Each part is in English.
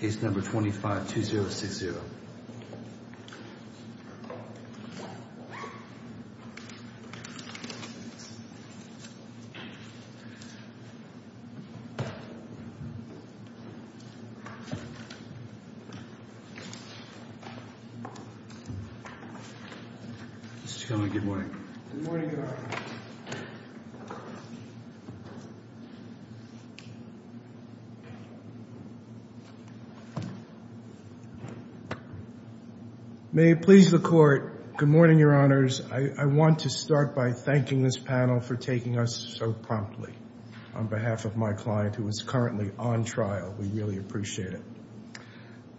case number 25-2060. Good morning. Good morning. May it please the court. Good morning, your honors. I want to start by thanking this panel for taking us so promptly on behalf of my client who is currently on trial. We really appreciate it.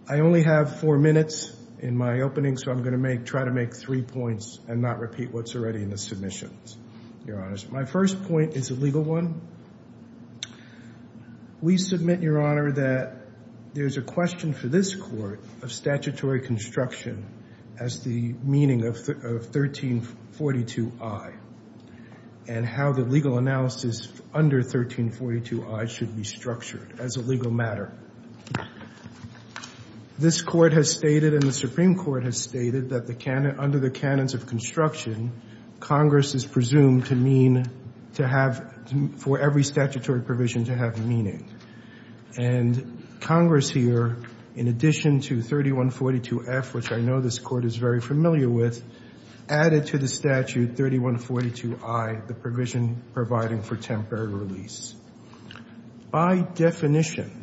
I only have four minutes in my opening, so I'm going to try to make three points and not repeat what's already in the submissions, your honors. My first point is a legal one. We submit, your honor, that there's a question for this court of statutory construction as the meaning of 1342I and how the legal analysis under 1342I should be structured as a legal matter. This Court has stated and the Supreme Court has stated that under the canons of construction, Congress is presumed to mean to have for every statutory provision to have meaning. And Congress here, in addition to 3142F, which I know this Court is very familiar with, added to the statute 3142I, the provision providing for temporary release. By definition,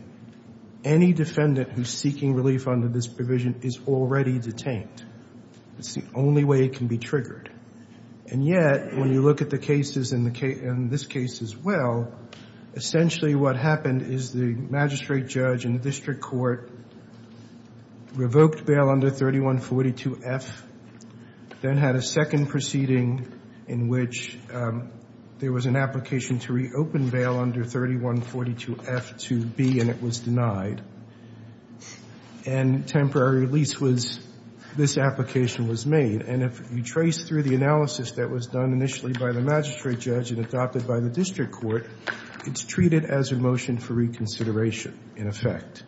any defendant who's seeking relief under this provision is already detained. It's the only way it can be triggered. And yet, when you look at the cases in this case as well, essentially what happened is the magistrate judge in the district court revoked bail under 3142F, then had a second proceeding in which there was an application to reopen bail under 3142F to B, and it was denied. And temporary release was, this application was made. And if you trace through the analysis that was done initially by the magistrate judge and adopted by the district court, it's treated as a motion for reconsideration, in effect,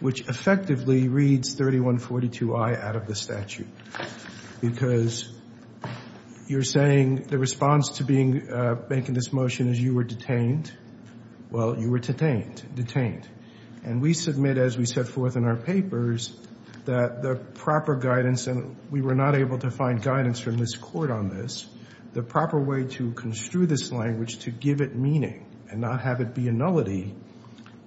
which effectively reads 3142I out of the statute. Because you're saying the response to being, making this motion is you were detained. Well, you were detained. And we submit, as we set forth in our papers, that the proper guidance, and we were not able to find guidance from this Court on this, the proper way to construe this language to give it meaning and not have it be a nullity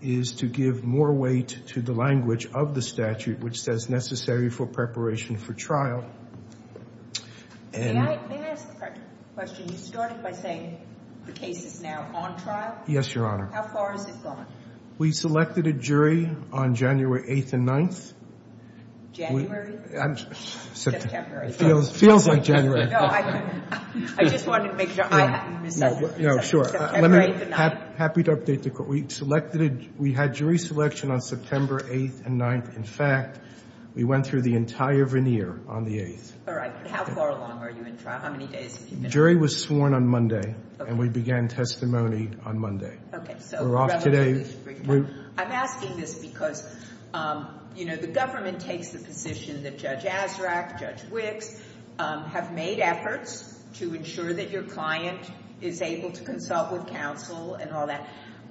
is to give more weight to the language of the statute which says necessary for preparation for trial. May I ask a question? You started by saying the case is now on trial? Yes, Your Honor. How far has it gone? We selected a jury on January 8th and 9th. January? It feels like January. No, I just wanted to make sure. No, sure. September 8th and 9th? Happy to update the Court. We selected, we had jury selection on September 8th and 9th. In fact, we went through the entire veneer on the 8th. All right. How far along are you in trial? How many days have you been? The jury was sworn on Monday, and we began testimony on Monday. Okay. We're off today. I'm asking this because, you know, the government takes the position that Judge Azraq, Judge Wicks, have made efforts to ensure that your client is able to consult with counsel and all that.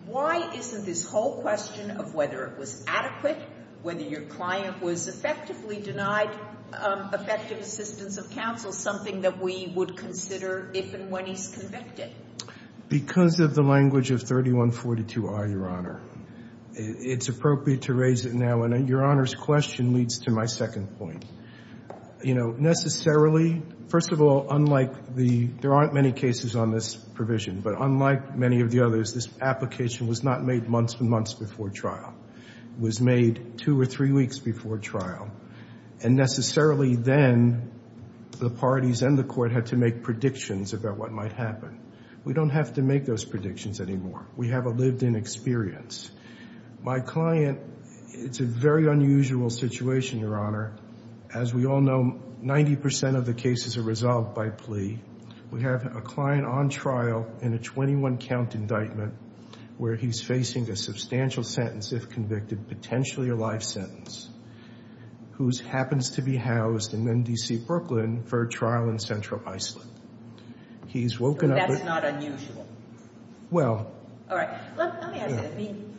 Why isn't this whole question of whether it was adequate, whether your client was effectively denied effective assistance of counsel, something that we would consider if and when he's convicted? Because of the language of 3142R, Your Honor. It's appropriate to raise it now. And Your Honor's question leads to my second point. You know, necessarily, first of all, unlike the, there aren't many cases on this provision, but unlike many of the others, this application was not made months and months before trial. It was made two or three weeks before trial. And necessarily then, the parties and the Court had to make predictions about what might happen. We don't have to make those predictions anymore. We have a lived-in experience. My client, it's a very unusual situation, Your Honor. As we all know, 90% of the cases are resolved by plea. We have a client on trial in a 21-count indictment where he's facing a substantial sentence if convicted, potentially a life sentence, who happens to be housed in D.C. Brooklyn for a trial in Central Iceland. He's woken up. That's not unusual. Well. All right. Let me ask you. I mean,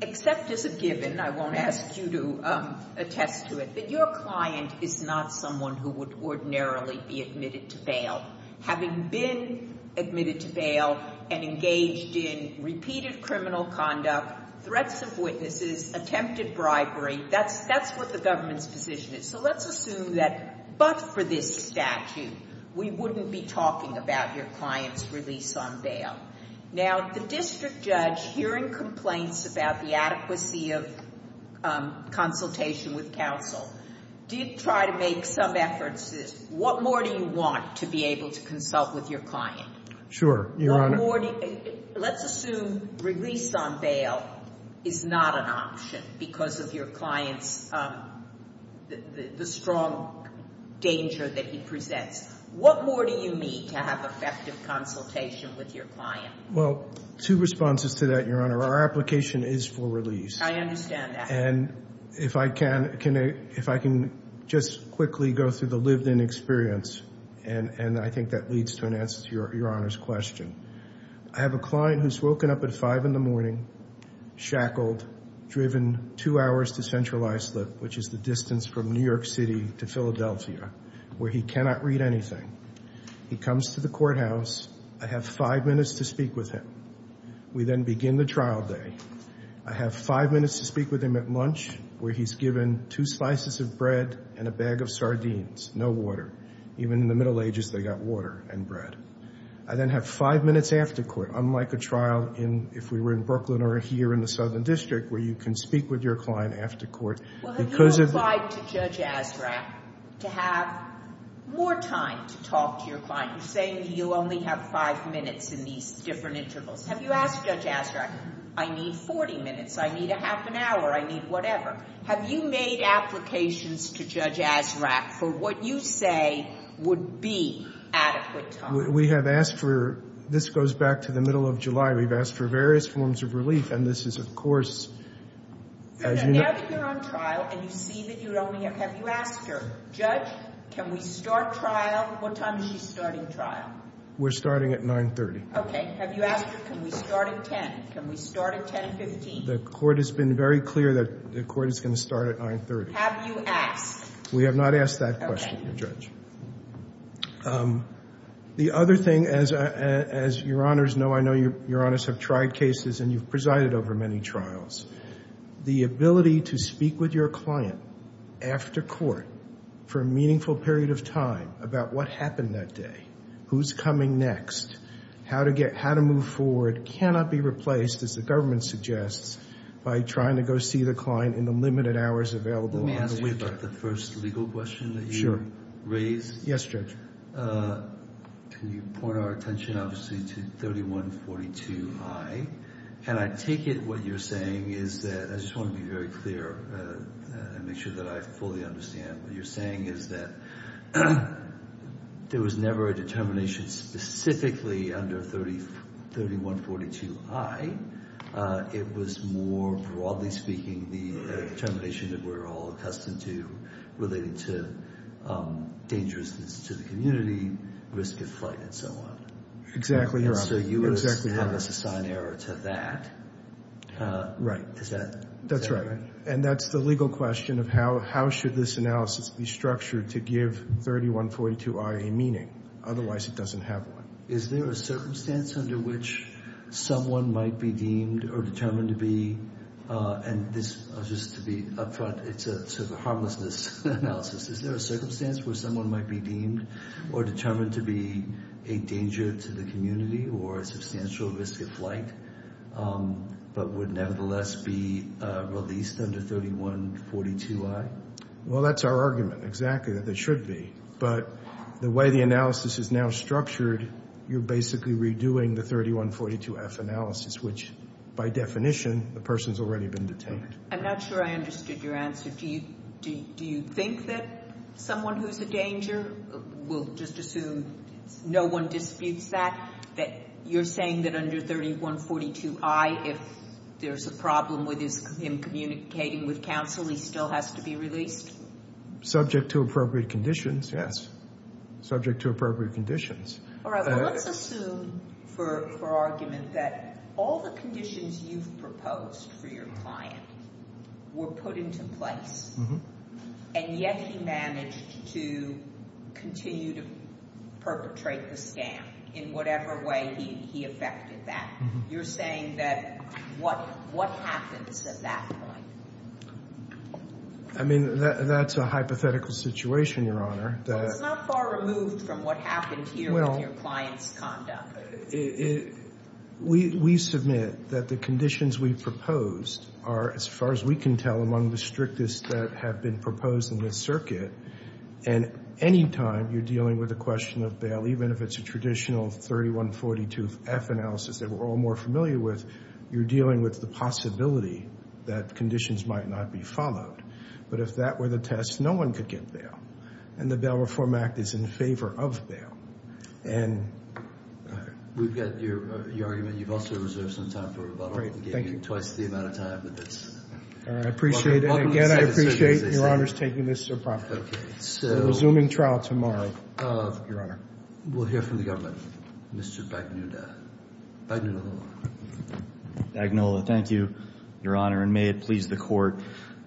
except as a given, I won't ask you to attest to it, that your client is not someone who would ordinarily be admitted to bail. Having been admitted to bail and engaged in repeated criminal conduct, threats of witnesses, attempted bribery, that's what the government's position is. So let's assume that but for this statute, we wouldn't be talking about your client's release on bail. Now, the district judge, hearing complaints about the adequacy of consultation with counsel, did try to make some efforts. What more do you want to be able to consult with your client? Sure, Your Honor. Let's assume release on bail is not an option because of your client's strong danger that he presents. What more do you need to have effective consultation with your client? Well, two responses to that, Your Honor. Our application is for release. I understand that. And if I can just quickly go through the lived-in experience, and I think that leads to an answer to Your Honor's question. I have a client who's woken up at 5 in the morning, shackled, driven 2 hours to Central Iceland, which is the distance from New York City to Philadelphia, where he cannot read anything. He comes to the courthouse. I have 5 minutes to speak with him. We then begin the trial day. I have 5 minutes to speak with him at lunch, where he's given 2 slices of bread and a bag of sardines, no water. Even in the Middle Ages, they got water and bread. I then have 5 minutes after court, unlike a trial if we were in Brooklyn or here in the Southern District, where you can speak with your client after court. Well, have you applied to Judge Azraq to have more time to talk to your client? You're saying that you only have 5 minutes in these different intervals. Have you asked Judge Azraq, I need 40 minutes, I need a half an hour, I need whatever? Have you made applications to Judge Azraq for what you say would be adequate time? We have asked for—this goes back to the middle of July. We've asked for various forms of relief, and this is, of course— Now that you're on trial and you see that you're only—have you asked her, Judge, can we start trial—what time is she starting trial? We're starting at 9.30. Okay. Have you asked her, can we start at 10? Can we start at 10.15? The court has been very clear that the court is going to start at 9.30. Have you asked? We have not asked that question, Judge. The other thing, as your Honors know, I know your Honors have tried cases, and you've presided over many trials. The ability to speak with your client after court for a meaningful period of time about what happened that day, who's coming next, how to move forward, it cannot be replaced, as the government suggests, by trying to go see the client in the limited hours available on the weekend. Let me ask you about the first legal question that you raised. Sure. Yes, Judge. Can you point our attention, obviously, to 3142i? And I take it what you're saying is that—I just want to be very clear and make sure that I fully understand what you're saying is that there was never a determination specifically under 3142i. It was more, broadly speaking, the determination that we're all accustomed to related to dangerousness to the community, risk of flight, and so on. Exactly. And so you have us assign error to that. Right. Is that— That's right. And that's the legal question of how should this analysis be structured to give 3142i a meaning. Otherwise, it doesn't have one. Is there a circumstance under which someone might be deemed or determined to be— and this, just to be upfront, it's sort of a harmlessness analysis. Is there a circumstance where someone might be deemed or determined to be a danger to the community or a substantial risk of flight but would nevertheless be released under 3142i? Well, that's our argument, exactly, that they should be. But the way the analysis is now structured, you're basically redoing the 3142f analysis, which, by definition, the person's already been detained. I'm not sure I understood your answer. Do you think that someone who's a danger—we'll just assume no one disputes that— you're saying that under 3142i, if there's a problem with him communicating with counsel, he still has to be released? Subject to appropriate conditions, yes. Subject to appropriate conditions. All right. Well, let's assume for argument that all the conditions you've proposed for your client were put into place and yet he managed to continue to perpetrate the scam in whatever way he effected that. You're saying that—what happens at that point? I mean, that's a hypothetical situation, Your Honor. Well, it's not far removed from what happened here with your client's conduct. We submit that the conditions we proposed are, as far as we can tell, among the strictest that have been proposed in this circuit. And any time you're dealing with a question of bail, even if it's a traditional 3142f analysis that we're all more familiar with, you're dealing with the possibility that conditions might not be followed. But if that were the test, no one could get bail. And the Bail Reform Act is in favor of bail. We've got your argument. You've also reserved some time for rebuttal. Thank you. We gave you twice the amount of time, but that's— I appreciate it. Again, I appreciate Your Honor's taking this so properly. Resuming trial tomorrow, Your Honor. We'll hear from the government. Mr. Bagnola. Bagnola, thank you, Your Honor, and may it please the Court.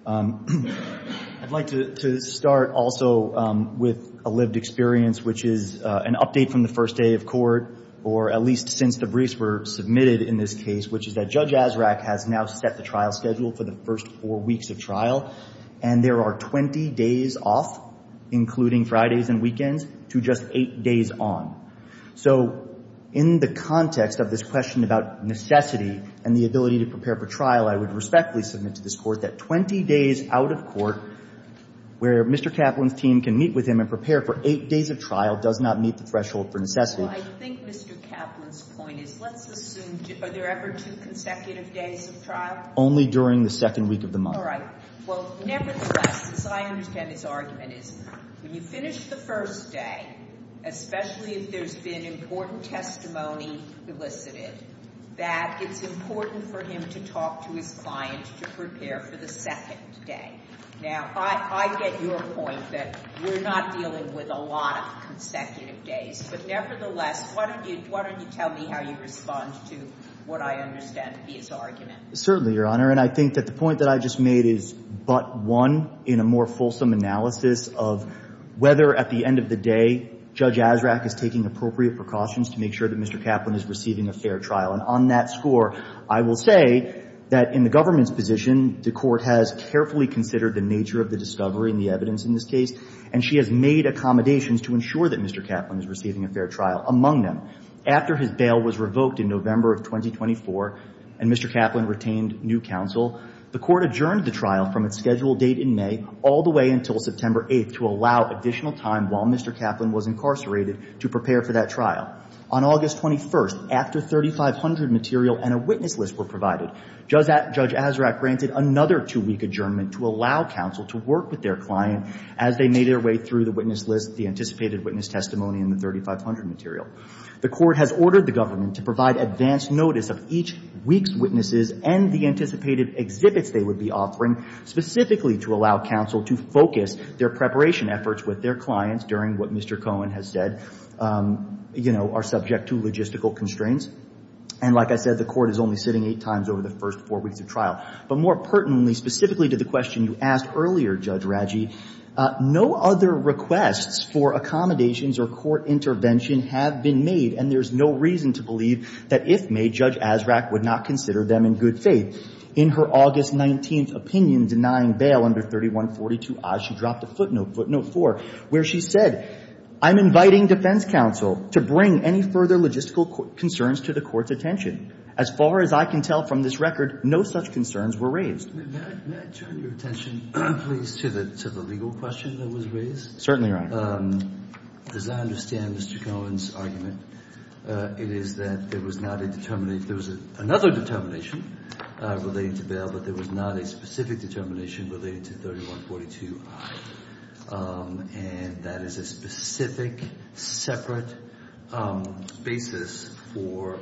I'd like to start also with a lived experience, which is an update from the first day of court, or at least since the briefs were submitted in this case, which is that Judge Azraq has now set the trial schedule for the first four weeks of trial, and there are 20 days off, including Fridays and weekends, to just eight days on. So in the context of this question about necessity and the ability to prepare for trial, I would respectfully submit to this Court that 20 days out of court, where Mr. Kaplan's team can meet with him and prepare for eight days of trial, does not meet the threshold for necessity. Well, I think Mr. Kaplan's point is, let's assume, are there ever two consecutive days of trial? Only during the second week of the month. All right. Well, nevertheless, as I understand his argument is, when you finish the first day, especially if there's been important testimony elicited, that it's important for him to talk to his client to prepare for the second day. Now, I get your point that we're not dealing with a lot of consecutive days, but nevertheless, why don't you tell me how you respond to what I understand to be his argument? Certainly, Your Honor, and I think that the point that I just made is but one in a more fulsome analysis of whether at the end of the day Judge Azraq is taking appropriate precautions to make sure that Mr. Kaplan is receiving a fair trial. And on that score, I will say that in the government's position, the Court has carefully considered the nature of the discovery and the evidence in this case, and she has made accommodations to ensure that Mr. Kaplan is receiving a fair trial. Among them, after his bail was revoked in November of 2024 and Mr. Kaplan retained new counsel, the Court adjourned the trial from its scheduled date in May all the way until September 8th to allow additional time while Mr. Kaplan was incarcerated to prepare for that trial. On August 21st, after 3,500 material and a witness list were provided, Judge Azraq granted another two-week adjournment to allow counsel to work with their client as they made their way through the witness list, the anticipated witness testimony and the 3,500 material. The Court has ordered the government to provide advance notice of each week's witnesses and the anticipated exhibits they would be offering specifically to allow counsel to focus their preparation efforts with their clients during what Mr. Cohen has said, you know, are subject to logistical constraints. And like I said, the Court is only sitting eight times over the first four weeks of trial. But more pertinently, specifically to the question you asked earlier, Judge Raggi, no other requests for accommodations or court intervention have been made and there's no reason to believe that if made, Judge Azraq would not consider them in good faith. In her August 19th opinion denying bail under 3142-I, she dropped a footnote, footnote 4, where she said, I'm inviting defense counsel to bring any further logistical concerns to the Court's attention. As far as I can tell from this record, no such concerns were raised. May I turn your attention please to the legal question that was raised? Certainly, Your Honor. As I understand Mr. Cohen's argument, it is that there was not a determination, there was another determination relating to bail, but there was not a specific determination relating to 3142-I. And that is a specific, separate basis for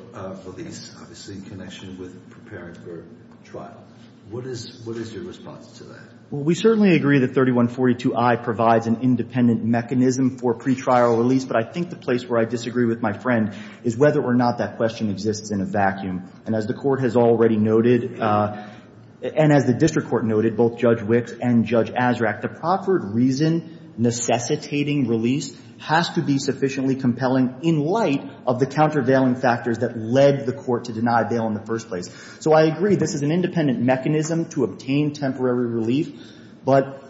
release, obviously in connection with preparing for trial. What is your response to that? Well, we certainly agree that 3142-I provides an independent mechanism for pretrial release, but I think the place where I disagree with my friend is whether or not that question exists in a vacuum. And as the Court has already noted, and as the District Court noted, both Judge Wicks and Judge Azraq, the proffered reason necessitating release has to be sufficiently compelling in light of the countervailing factors that led the Court to deny bail in the first place. So I agree this is an independent mechanism to obtain temporary relief, but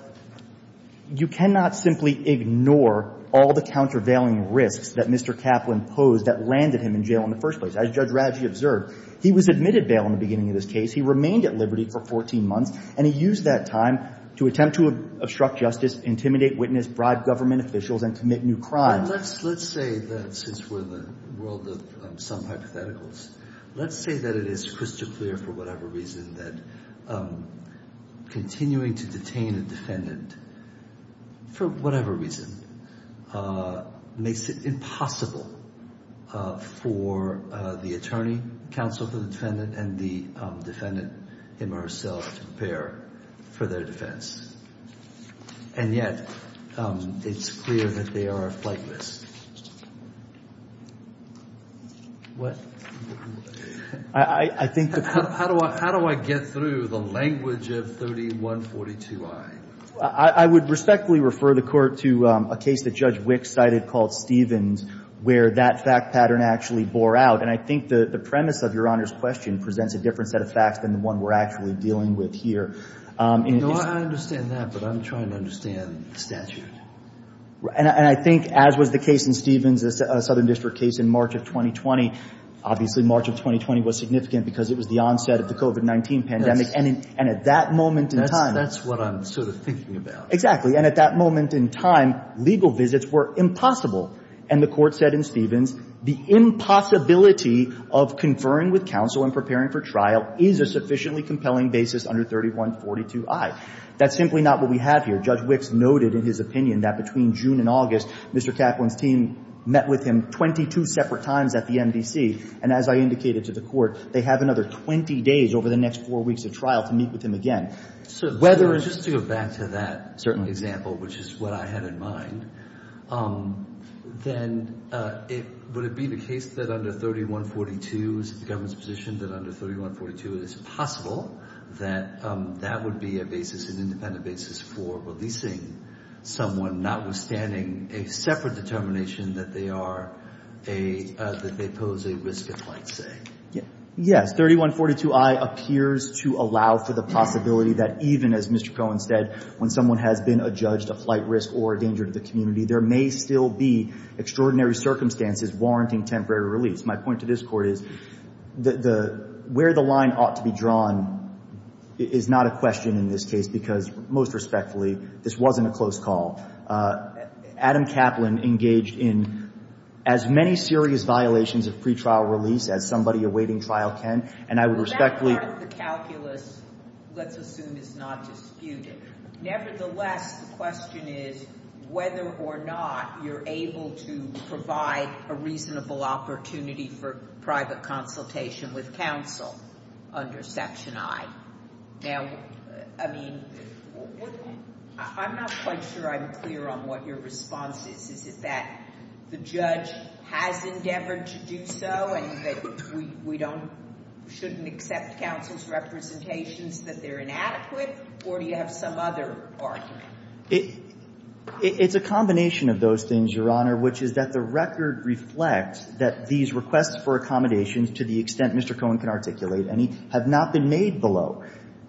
you cannot simply ignore all the countervailing risks that Mr. Kaplan posed that landed him in jail in the first place. As Judge Radji observed, he was admitted bail in the beginning of this case, he remained at liberty for 14 months, and he used that time to attempt to obstruct justice, intimidate witness, bribe government officials, and commit new crimes. Let's say that since we're in the world of some hypotheticals, let's say that it is crystal clear for whatever reason that continuing to detain a defendant for whatever reason makes it impossible for the attorney counsel to defend it and the defendant him or herself to prepare for their defense. And yet, it's clear that they are flightless. What? I think the Court — How do I get through the language of 3142I? I would respectfully refer the Court to a case that Judge Wicks cited called Stevens where that fact pattern actually bore out. And I think the premise of Your Honor's question presents a different set of facts than the one we're actually dealing with here. No, I understand that, but I'm trying to understand the statute. And I think, as was the case in Stevens, a Southern District case in March of 2020, obviously March of 2020 was significant because it was the onset of the COVID-19 pandemic. And at that moment in time — That's what I'm sort of thinking about. Exactly. And at that moment in time, legal visits were impossible. And the Court said in Stevens, the impossibility of conferring with counsel and preparing for trial is a sufficiently compelling basis under 3142I. That's simply not what we have here. Judge Wicks noted in his opinion that between June and August, Mr. Kaplan's team met with him 22 separate times at the MDC. And as I indicated to the Court, they have another 20 days over the next four weeks of trial to meet with him again. Whether — To go back to that example, which is what I had in mind, then would it be the case that under 3142, is it the government's position that under 3142 it is possible that that would be a basis, an independent basis for releasing someone notwithstanding a separate determination that they pose a risk of flight, say? Yes. As 3142I appears to allow for the possibility that even, as Mr. Cohen said, when someone has been adjudged a flight risk or a danger to the community, there may still be extraordinary circumstances warranting temporary release. My point to this Court is where the line ought to be drawn is not a question in this case because, most respectfully, this wasn't a close call. Adam Kaplan engaged in as many serious violations of pretrial release as somebody awaiting trial can. And I would respectfully— Well, that part of the calculus, let's assume, is not disputed. Nevertheless, the question is whether or not you're able to provide a reasonable opportunity for private consultation with counsel under Section I. Now, I mean, I'm not quite sure I'm clear on what your response is. Is it that the judge has endeavored to do so and that we don't — shouldn't accept counsel's representations that they're inadequate? Or do you have some other argument? It's a combination of those things, Your Honor, which is that the record reflects that these requests for accommodations, to the extent Mr. Cohen can articulate, have not been made below.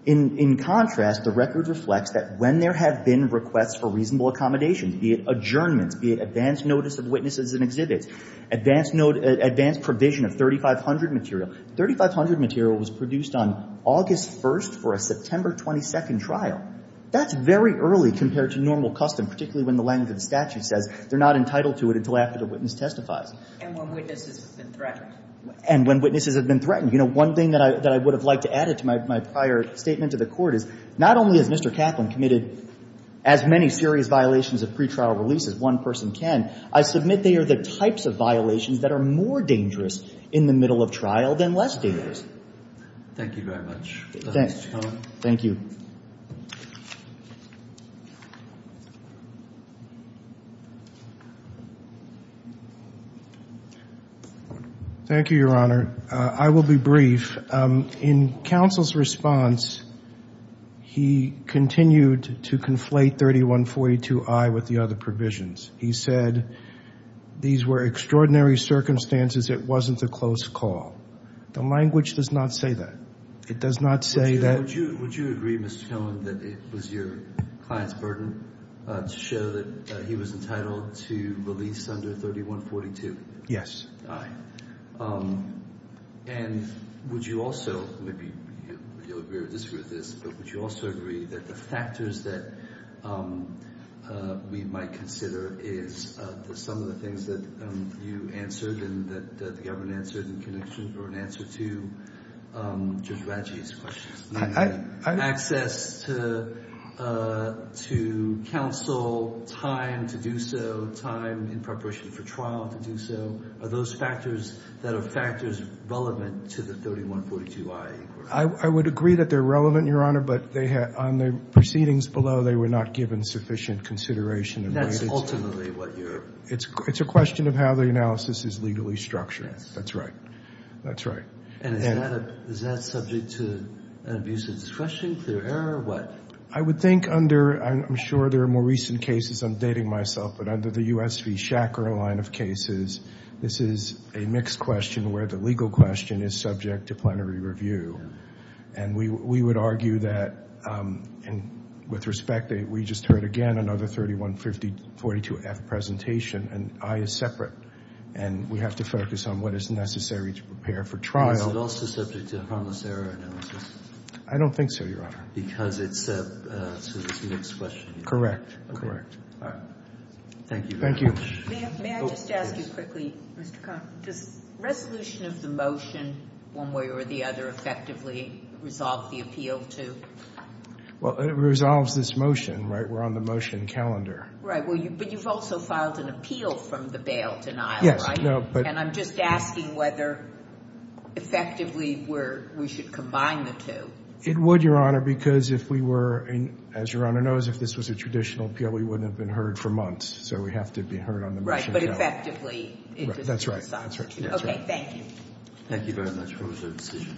In contrast, the record reflects that when there have been requests for reasonable accommodations, be it adjournments, be it advance notice of witnesses and exhibits, advance provision of 3,500 material — 3,500 material was produced on August 1st for a September 22nd trial. That's very early compared to normal custom, particularly when the language of the statute says they're not entitled to it until after the witness testifies. And when witnesses have been threatened. And when witnesses have been threatened. You know, one thing that I would have liked to add to my prior statement to the Court is not only has Mr. Kaplan committed as many serious violations of pretrial release as one person can, I submit they are the types of violations that are more dangerous in the middle of trial than less dangerous. Thank you very much. Thanks. Thank you. Thank you, Your Honor. I will be brief. In counsel's response, he continued to conflate 3142I with the other provisions. He said, these were extraordinary circumstances. It wasn't a close call. The language does not say that. It does not say that — Would you agree, Mr. Killen, that it was your client's burden to show that he was entitled to release under 3142I? Yes. And would you also — maybe you'll agree or disagree with this, but would you also agree that the factors that we might consider is some of the things that you answered and that the government answered in connection or in answer to Judge Radji's questions? I — Access to counsel, time to do so, time in preparation for trial to do so. Are those factors that are factors relevant to the 3142I inquiry? I would agree that they're relevant, Your Honor, but on the proceedings below, they were not given sufficient consideration. That's ultimately what you're — It's a question of how the analysis is legally structured. Yes. That's right. That's right. And is that subject to an abuse of discretion, clear error, or what? I would think under — I'm sure there are more recent cases. I'm dating myself. But under the US v. Shacker line of cases, this is a mixed question where the legal question is subject to plenary review. And we would argue that, with respect, we just heard again another 3142F presentation, and I is separate. And we have to focus on what is necessary to prepare for trial. And is it also subject to a harmless error analysis? I don't think so, Your Honor. Because it's a mixed question. Correct. Correct. All right. Thank you very much. Thank you. May I just ask you quickly, Mr. Conner? Does resolution of the motion one way or the other effectively resolve the appeal to — Well, it resolves this motion, right? We're on the motion calendar. Right. But you've also filed an appeal from the bail denial, right? And I'm just asking whether, effectively, we should combine the two. It would, Your Honor, because if we were — as Your Honor knows, if this was a traditional appeal, we wouldn't have been heard for months. So we have to be heard on the motion calendar. But effectively, it resolves. That's right. That's right. Okay. Thank you. Thank you very much for your decision.